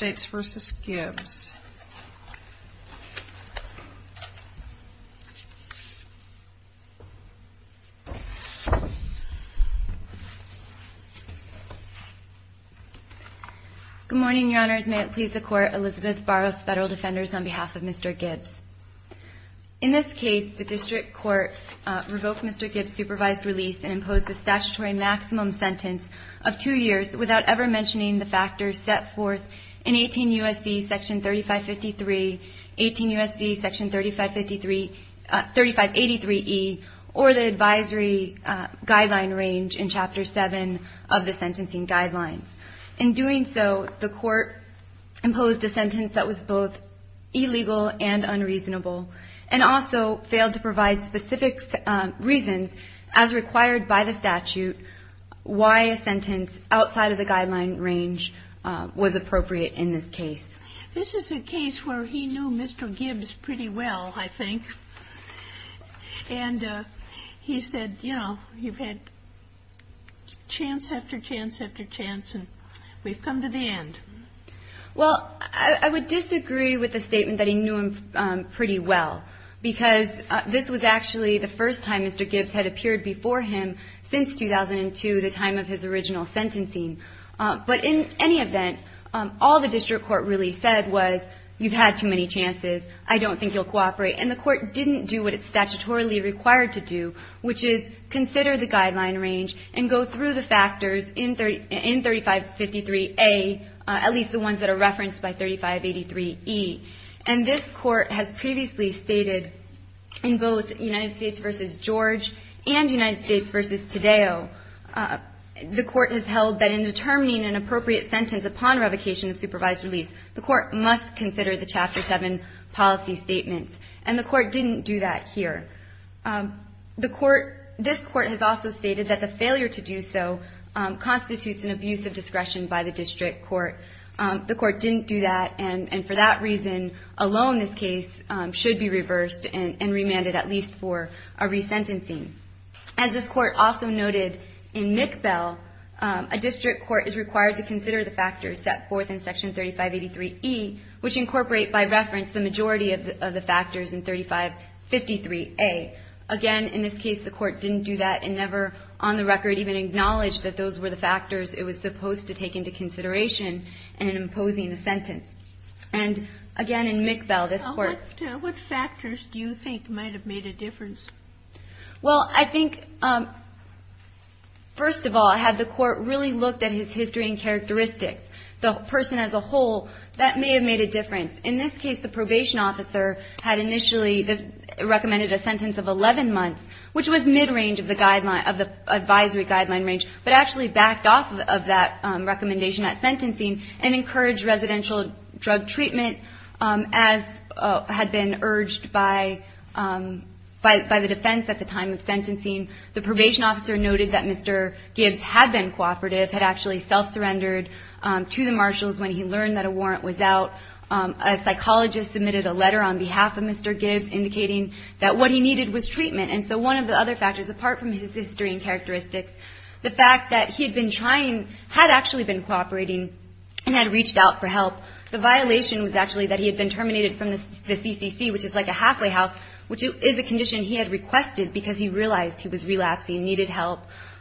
Good morning, Your Honors. May it please the Court, Elizabeth Barros, Federal Defenders, on behalf of Mr. Gibbs. In this case, the District Court revoked Mr. Gibbs' supervised release and imposed a statutory maximum sentence of two years without ever mentioning the factors set forth in 18 U.S.C. § 3553, 18 U.S.C. § 3583E, or the Advisory Guideline Range in Chapter 7 of the Sentencing Guidelines. In doing so, the Court imposed a sentence that was both illegal and unreasonable, and also failed to provide specific reasons, as required by the statute, why a sentence outside of the guideline range was appropriate in this case. This is a case where he knew Mr. Gibbs pretty well, I think. And he said, you know, you've had chance after chance after chance, and we've come to the end. Well, I would disagree with the statement that he knew him pretty well, because this was actually the first time Mr. Gibbs had appeared before him since 2002, the time of his original sentencing. But in any event, all the District Court really said was, you've had too many chances, I don't think you'll cooperate. And the Court didn't do what it's statutorily required to do, which is consider the guideline range and go through the factors in § 3553A, at least the ones that are referenced by § 3583E. And this Court has previously stated, in both United States v. George and United States v. Tadeo, the Court has held that in determining an appropriate sentence upon revocation of supervised release, the Court must consider the Chapter 7 policy statements. And the Court didn't do that here. The Court, this Court has also stated that the failure to do so constitutes an abuse of discretion by the District Court. The Court didn't do that, and for that reason, alone this case should be reversed and remanded, at least for a resentencing. As this Court also noted in McBell, a District Court is required to consider the factors set forth in § 3583E, which incorporate, by reference, the majority of the factors in § 3553A. Again, in this case, the Court didn't do that and never on the record even referred to the factors it was supposed to take into consideration in imposing a sentence. And again, in McBell, this Court… What factors do you think might have made a difference? Well, I think, first of all, had the Court really looked at his history and characteristics, the person as a whole, that may have made a difference. In this case, the probation officer had initially recommended a sentence of 11 months, which was mid-range of the advisory guideline range, but actually backed off of that recommendation at sentencing and encouraged residential drug treatment as had been urged by the defense at the time of sentencing. The probation officer noted that Mr. Gibbs had been cooperative, had actually self-surrendered to the marshals when he learned that a warrant was out. A psychologist submitted a letter on behalf of Mr. Gibbs indicating that what he needed was treatment, and so one of the other factors, apart from his history and characteristics, the fact that he had been trying, had actually been cooperating, and had reached out for help. The violation was actually that he had been terminated from the CCC, which is like a halfway house, which is a condition he had requested because he realized he was relapsing and needed help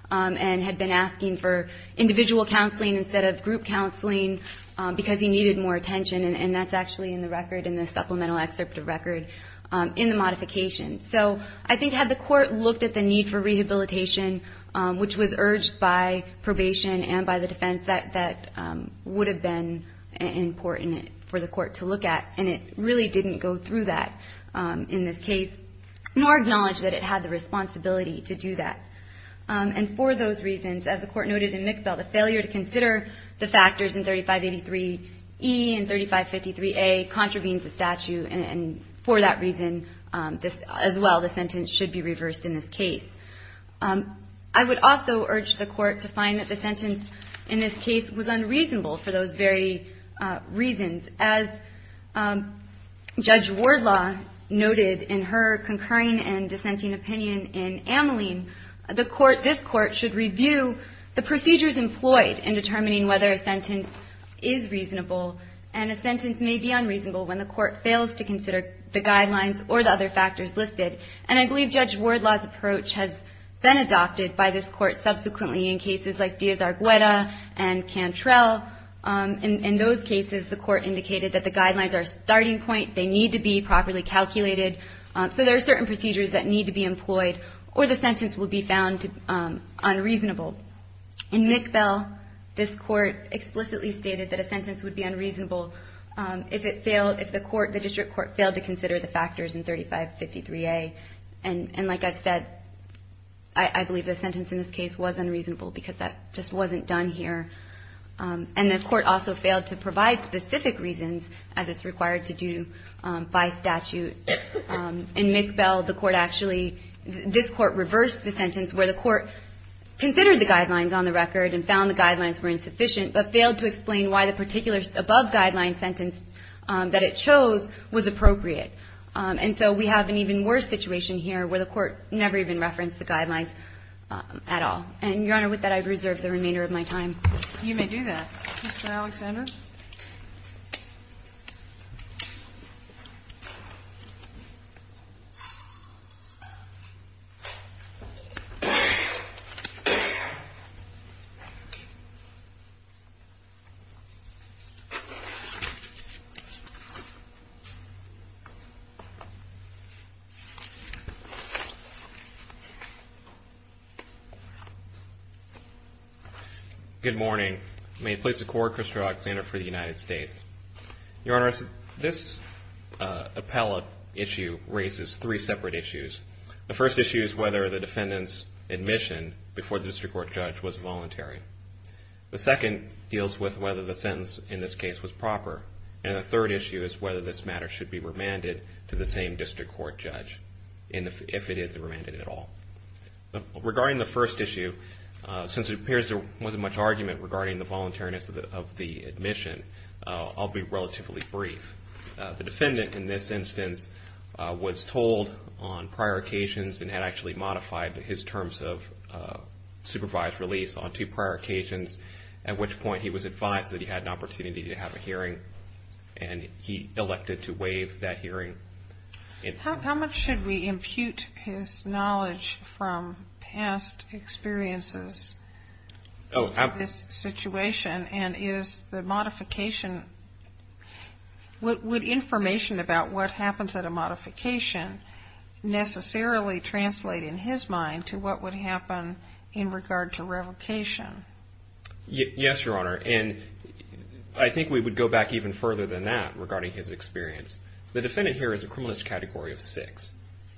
and had been asking for individual counseling instead of group counseling because he needed more attention, and that's actually in the record, in the supplemental excerpt of record, in the modification. So I think had the court looked at the need for rehabilitation, which was urged by probation and by the defense, that would have been important for the court to look at, and it really didn't go through that in this case, nor acknowledge that it had the responsibility to do that. And for those reasons, as the court noted in McBell, the failure to consider the factors in 3583E and 3553A contravenes the statute, and for that reason, as well, the sentence should be reversed in this case. I would also urge the court to find that the sentence in this case was unreasonable for those very reasons. As Judge Wardlaw noted in her concurring and dissenting opinion in Ameline, the court, this court, should review the procedures employed in determining whether a sentence is reasonable and a sentence may be unreasonable when the court fails to consider the guidelines or the other factors listed. And I believe Judge Wardlaw's approach has been adopted by this court subsequently in cases like Diaz-Argueda and Cantrell. In those cases, the court indicated that the guidelines are a starting point. They need to be properly calculated. So there are certain procedures that need to be employed, or the sentence will be found unreasonable. In McBell, this court explicitly stated that a sentence would be unreasonable if the court, the district court, failed to consider the factors in 3553A. And like I've said, I believe the sentence in this case was unreasonable because that just wasn't done here. And the court also failed to provide specific reasons, as it's required to do by statute. In McBell, the court actually, this court reversed the sentence where the court considered the guidelines on the record and found the guidelines were insufficient, but failed to explain why the particular above-guideline sentence that it chose was appropriate. And so we have an even worse situation here where the court never even referenced the guidelines at all. And, Your Honor, with that, I reserve the remainder of my time. You may do that. Mr. Alexander? Good morning. May it please the Court, Christopher Alexander for the United States. Your Honor, this appellate issue raises three separate issues. The first issue is whether the defendant's admission before the district court judge was voluntary. The second deals with whether the sentence in this case was proper. And the third issue is whether this matter should be remanded to the same district court judge, if it is remanded at all. Regarding the first issue, since it appears there wasn't much argument regarding the voluntariness of the admission, I'll be relatively brief. The defendant, in this instance, was told on prior occasions and had actually modified his terms of supervised release on two prior occasions, at which point he was advised that he had an opportunity to have a hearing, and he elected to waive that hearing. How much should we impute his knowledge from past experiences of this situation, and is the modification, would information about what happens at a modification necessarily translate in his mind to what would happen in regard to revocation? Yes, Your Honor, and I think we would go back even further than that regarding his experience. The defendant here is a criminalist category of six.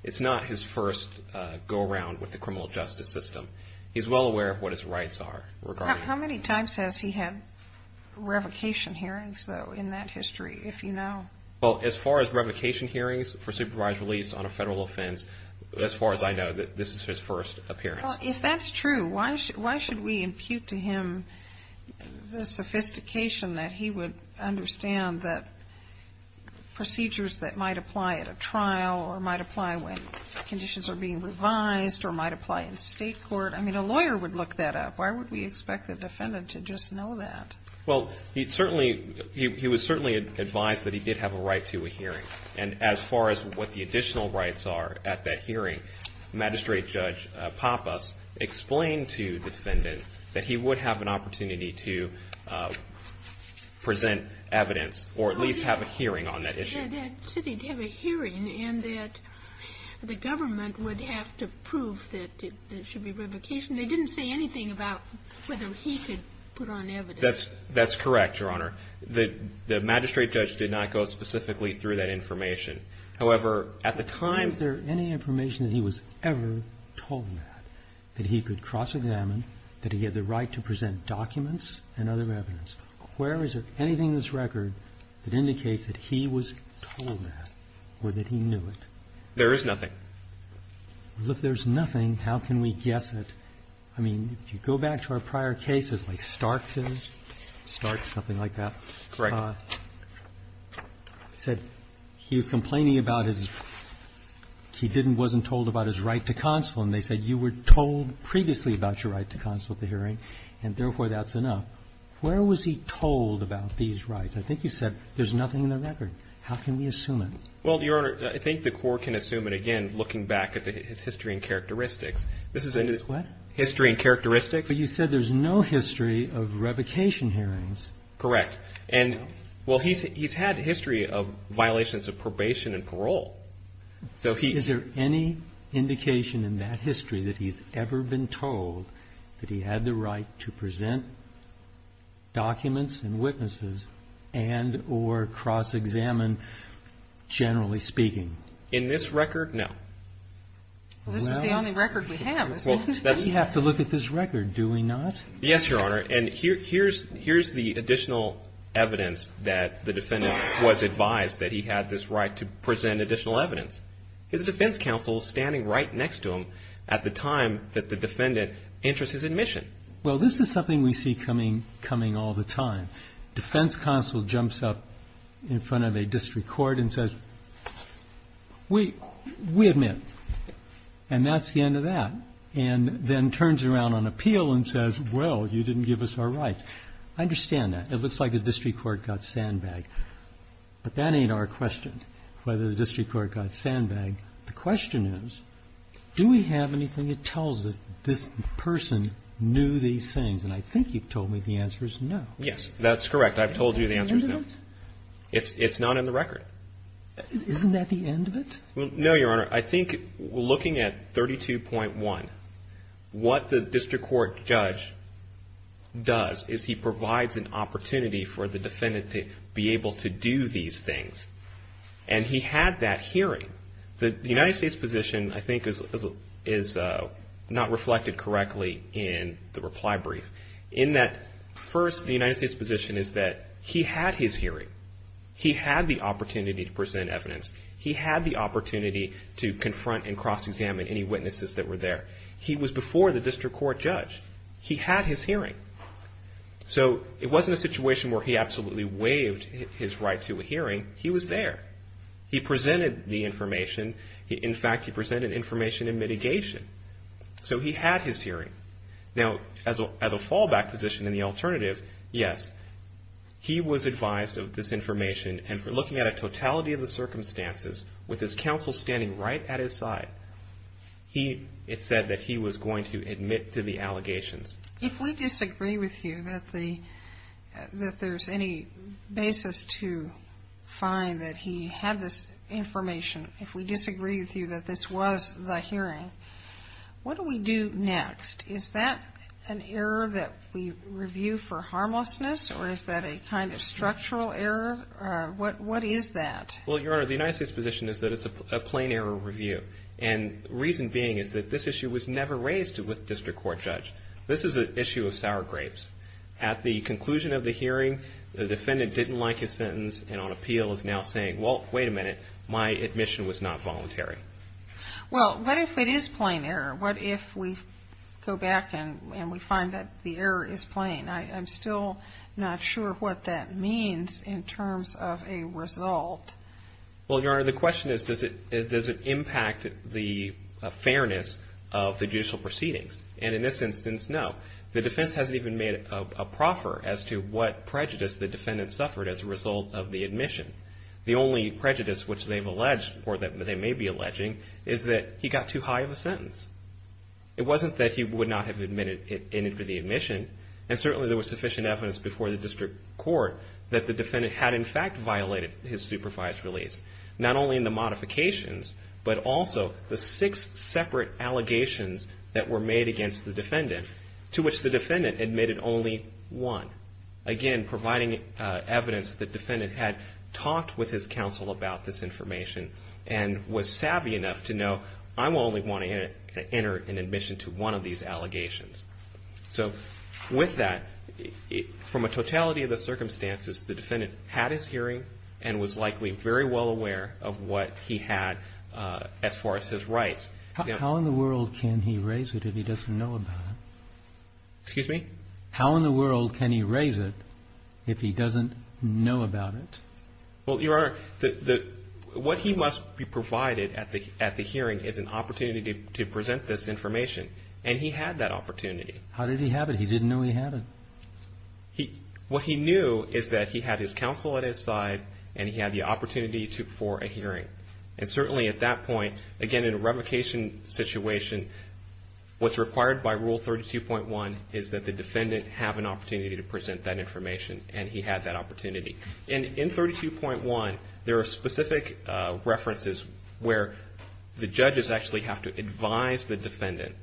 It's not his first go-around with the criminal justice system. He's well aware of what his rights are regarding this. How many times has he had revocation hearings, though, in that history, if you know? Well, as far as revocation hearings for supervised release on a federal offense, as far as I know, this is his first appearance. Well, if that's true, why should we impute to him the sophistication that he would understand that procedures that might apply at a trial or might apply when conditions are being revised or might apply in state court? I mean, a lawyer would look that up. Why would we expect the defendant to just know that? Well, he'd certainly, he was certainly advised that he did have a right to a hearing, and as far as what the additional rights are at that hearing, Magistrate Judge Pappas explained to the defendant that he would have an opportunity to present evidence or at least have a hearing on that issue. He said he'd have a hearing and that the government would have to prove that there should be revocation. They didn't say anything about whether he could put on evidence. That's correct, Your Honor. The Magistrate Judge did not go specifically through that information. However, at the time... Was there any information that he was ever told that he could cross-examine, that he had the right to present documents and other evidence? Where is there anything in this case that he was ever told that or that he knew it? There is nothing. Well, if there's nothing, how can we guess it? I mean, if you go back to our prior cases, like Stark's, Stark's, something like that... Correct. ...said he was complaining about his, he didn't, wasn't told about his right to counsel, and they said you were told previously about your right to counsel at the hearing, and therefore that's enough. Where was he told about these rights? I think you said there's any indication in that history that he's ever been told that he had the right to present documents and witnesses and or cross-examine evidence? Well, Your Honor, I think the Court can assume it again, looking back at his history and characteristics. This is in his history and characteristics. But you said there's no history of revocation hearings. Correct. And, well, he's had history of violations of probation and parole. So he... Is there any indication in that history that he's ever been told that he had the right to present documents and witnesses and or cross-examine, generally speaking? In this record, no. Well, this is the only record we have, isn't it? We have to look at this record, do we not? Yes, Your Honor. And here's the additional evidence that the defendant was advised that he had this right to present additional evidence. His defense counsel is standing right next to him at the time that the defendant enters his admission. Well, this is something we see coming all the time. Defense counsel jumps up in front of a district court and says, we admit. And that's the end of that. And then turns around on appeal and says, well, you didn't give us our rights. I understand that. It looks like the district court got sandbagged. But that ain't our question, whether the district court got sandbagged. The question is, do we have anything that tells us this person knew these things? And I think you've told me the answer is no. Yes, that's correct. I've told you the answer is no. Is that the end of it? It's not in the record. Isn't that the end of it? No, Your Honor. I think looking at 32.1, what the district court judge does is he provides an opportunity for the defendant to be able to do these things. And he had that hearing. The United States position, I think, is not reflected correctly in the reply brief. In that, first, the United States position is that he had his hearing. He had the opportunity to present evidence. He had the opportunity to confront and cross-examine any witnesses that were there. He was before the district court judge. He had his hearing. So it wasn't a situation where he absolutely waived his right to a hearing. He was there. He presented the information. In fact, he presented information in mitigation. So he had his hearing. Now, as a fallback position in the alternative, yes, he was advised of this information. And for looking at a totality of the circumstances, with his counsel standing right at his side, it said that he was going to admit to the allegations. If we disagree with you that there's any basis to find that he had this information, if we disagree with you that this was the hearing, what do we do next? Is that an error that we review for harmlessness, or is that a kind of structural error? What is that? Well, Your Honor, the United States position is that it's a plain error review. And the reason being is that this issue was never raised with the district court judge. This is an issue of sour grapes. At the conclusion of the hearing, the defendant didn't like his sentence and on appeal is now saying, well, wait a minute, my admission was not voluntary. Well, what if it is plain error? What if we go back and we find that the error is plain? I'm still not sure what that means in terms of a result. Well, Your Honor, the question is, does it impact the fairness of the judicial proceedings? And in this instance, no. The defense hasn't even made a proffer as to what prejudice the defendant suffered as a result of the admission. The only prejudice which they've alleged or that they may be alleging is that he got too high of a sentence. It wasn't that he would not have admitted to the admission, and certainly there was sufficient evidence before the district court that the defendant had in fact violated his supervised release, not only in the modifications but also the six separate allegations that were made against the defendant, to which the defendant admitted only one, again providing evidence that the defendant had talked with his counsel about this information and was savvy enough to know I'm only wanting to enter an admission to one of these allegations. So with that, from a totality of the circumstances, the defendant had his hearing and was likely very well aware of what he had as far as his rights. How in the world can he raise it if he doesn't know about it? Excuse me? How in the world can he raise it if he doesn't know about it? Well, Your Honor, what he must be provided at the hearing is an opportunity to present this information, and he had that opportunity. How did he have it? He didn't know he had it. What he knew is that he had his counsel at his side and he had the opportunity for a hearing. And certainly at that point, again in a revocation situation, what's required by Rule 32.1 is that the defendant have an opportunity to present that information, and he had that opportunity. And in 32.1, there are specific references where the judges actually have to advise the defendant.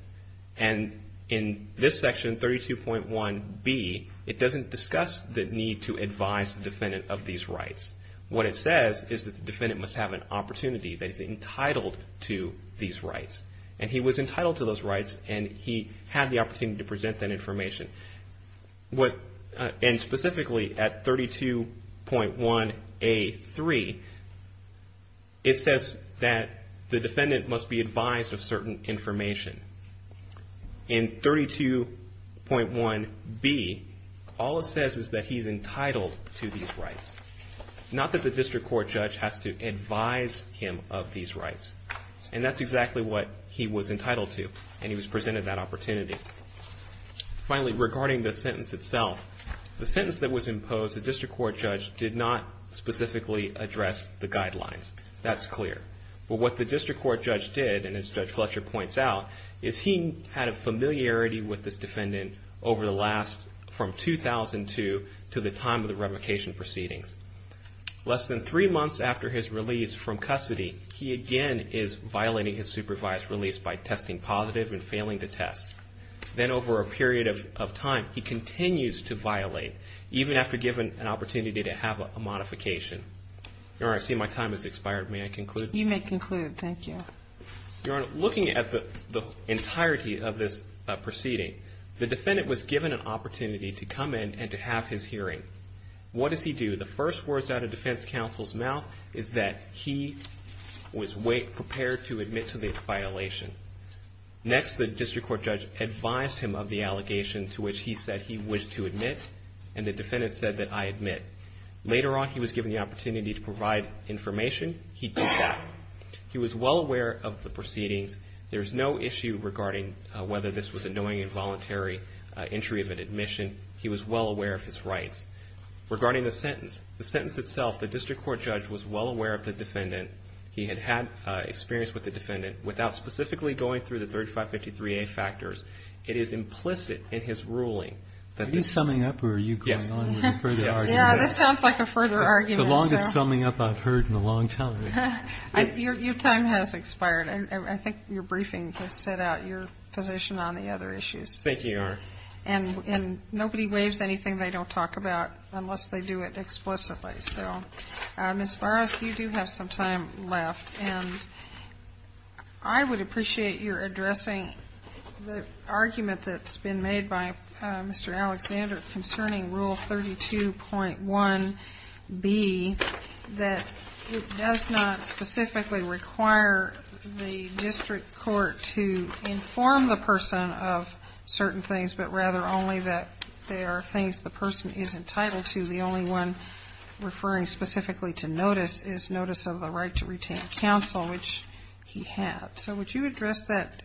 And in this section, 32.1b, it doesn't discuss the need to advise the defendant of these rights. What it says is that the defendant must have an opportunity that is entitled to these rights. And he was entitled to those rights, and he had the opportunity to present that information. And specifically at 32.1a.3, it says that the defendant must be advised of certain information. In 32.1b, all it says is that he's entitled to these rights, not that the district court judge has to advise him of these rights. And that's exactly what he was entitled to, and he was presented that opportunity. Finally, regarding the sentence itself, the sentence that was imposed, the district court judge did not specifically address the guidelines. That's clear. But what the district court judge did, and as Judge Fletcher points out, is he had a familiarity with this defendant over the last, from 2002, to the time of the revocation proceedings. Less than three months after his release from custody, he again is violating his supervised release by testing positive and failing to test. Then over a period of time, he continues to violate, even after given an opportunity to have a modification. Your Honor, I see my time has expired. May I conclude? You may conclude. Thank you. Your Honor, looking at the entirety of this proceeding, the defendant was given an opportunity to come in and to have his hearing. What does he do? The first words out of defense counsel's mouth is that he was prepared to admit to the violation. Next, the district court judge advised him of the allegation to which he said he wished to admit, and the defendant said that I admit. Later on, he was given the opportunity to provide information. He did that. He was well aware of the proceedings. There's no issue regarding whether this was a knowing and voluntary entry of an admission. He was well aware of his rights. Regarding the sentence, the sentence itself, the district court judge was well aware of the defendant. He had had experience with the defendant. Without specifically going through the 3553A factors, it is implicit in his ruling. Are you summing up or are you going on with a further argument? Yeah, this sounds like a further argument. The longest summing up I've heard in a long time. Your time has expired. I think your briefing has set out your position on the other issues. Thank you, Your Honor. And nobody waives anything they don't talk about unless they do it explicitly. So, Ms. Farris, you do have some time left. And I would appreciate your addressing the argument that's been made by Mr. Alexander concerning Rule 32.1B, that it does not specifically require the district court to inform the person of certain things, but rather only that they are things the person is entitled to. The only one referring specifically to notice is notice of the right to retain counsel, which he had. So would you address that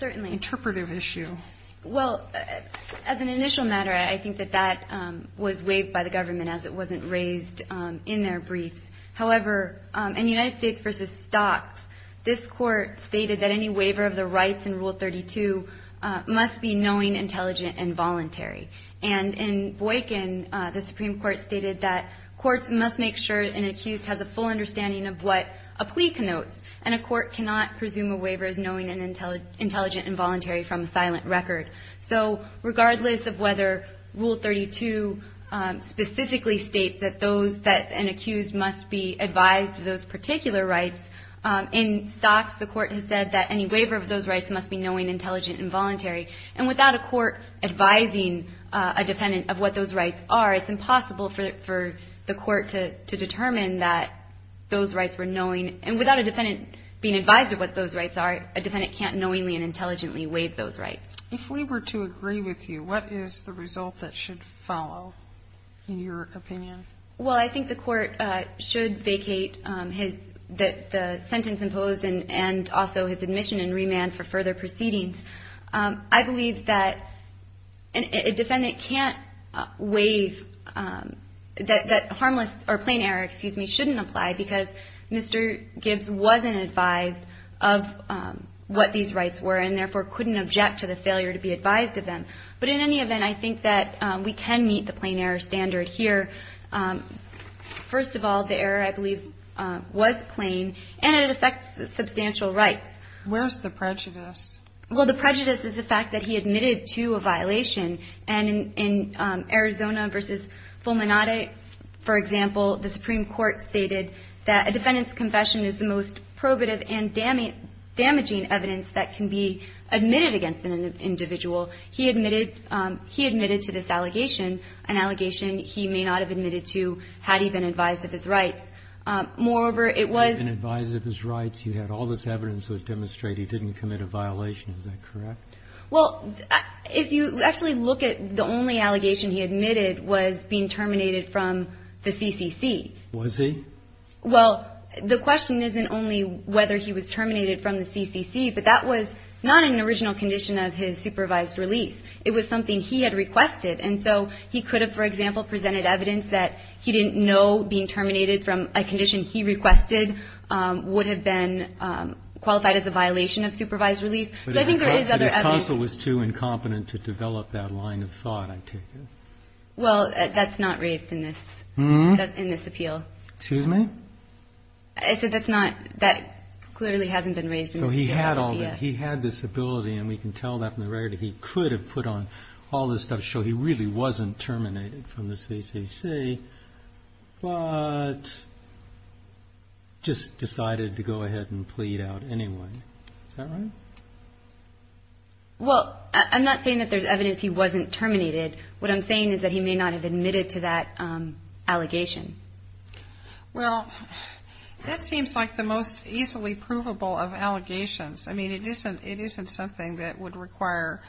interpretive issue? Certainly. Well, as an initial matter, I think that that was waived by the government as it wasn't raised in their briefs. However, in United States v. Stocks, this Court stated that any waiver of the rights in Rule 32 must be knowing, intelligent, and voluntary. And in Boykin, the Supreme Court stated that courts must make sure an accused has a full understanding of what a plea connotes, and a court cannot presume a waiver is knowing and intelligent and voluntary from a silent record. So regardless of whether Rule 32 specifically states that an accused must be advised of those particular rights, in Stocks the Court has said that any waiver of those rights must be knowing, intelligent, and voluntary. And without a court advising a defendant of what those rights are, it's impossible for the court to determine that those rights were knowing. And without a defendant being advised of what those rights are, a defendant can't knowingly and intelligently waive those rights. If we were to agree with you, what is the result that should follow, in your opinion? Well, I think the Court should vacate his – the sentence imposed and also his admission and remand for further proceedings. I believe that a defendant can't waive – that harmless – or plain error, excuse me, shouldn't apply because Mr. Gibbs wasn't advised of what these rights were and therefore couldn't object to the failure to be advised of them. But in any event, I think that we can meet the plain error standard here. First of all, the error, I believe, was plain, and it affects substantial rights. Where's the prejudice? Well, the prejudice is the fact that he admitted to a violation. And in Arizona v. Fulminati, for example, the Supreme Court stated that a defendant's confession is the most probative and damaging evidence that can be admitted against an individual. He admitted – he admitted to this allegation, an allegation he may not have admitted to had he been advised of his rights. Moreover, it was – He had been advised of his rights. He had all this evidence to demonstrate he didn't commit a violation. Is that correct? Well, if you actually look at the only allegation he admitted was being terminated from the CCC. Was he? Well, the question isn't only whether he was terminated from the CCC, but that was not an original condition of his supervised release. It was something he had requested. And so he could have, for example, presented evidence that he didn't know being terminated from a condition he requested would have been qualified as a violation of supervised release. So I think there is other evidence. But his counsel was too incompetent to develop that line of thought, I take it. Well, that's not raised in this – Hmm? In this appeal. Excuse me? I said that's not – that clearly hasn't been raised in the appeal yet. So he had all this – he had this ability, and we can tell that from the rarity he could have put on all this stuff to show he really wasn't terminated from the CCC, but just decided to go ahead and plead out anyway. Is that right? Well, I'm not saying that there's evidence he wasn't terminated. What I'm saying is that he may not have admitted to that allegation. Well, that seems like the most easily provable of allegations. I mean, it isn't something that would require,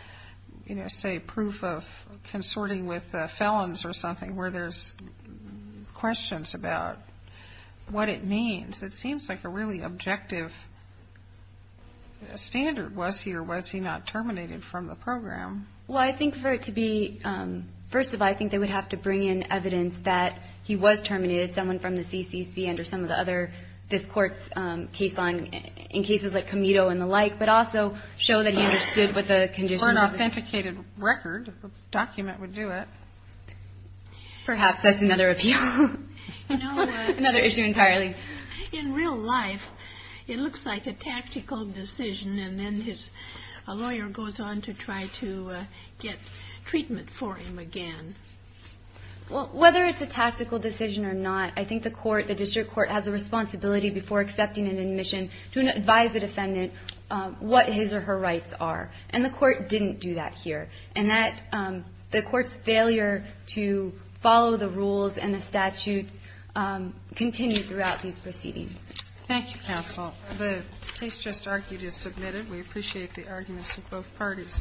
you know, say proof of consorting with felons or something where there's questions about what it means. It seems like a really objective standard. Was he or was he not terminated from the program? Well, I think for it to be – first of all, I think they would have to bring in evidence that he was terminated, someone from the CCC under some of the other – this court's case line, in cases like Comito and the like, but also show that he understood what the condition was. Or an authenticated record of the document would do it. Perhaps that's another appeal. Another issue entirely. In real life, it looks like a tactical decision, and then a lawyer goes on to try to get treatment for him again. Well, whether it's a tactical decision or not, I think the court, the district court has a responsibility before accepting an admission to advise the defendant what his or her rights are. And the court didn't do that here. And that – the court's failure to follow the rules and the statutes continue throughout these proceedings. Thank you, counsel. The case just argued is submitted. We appreciate the arguments of both parties.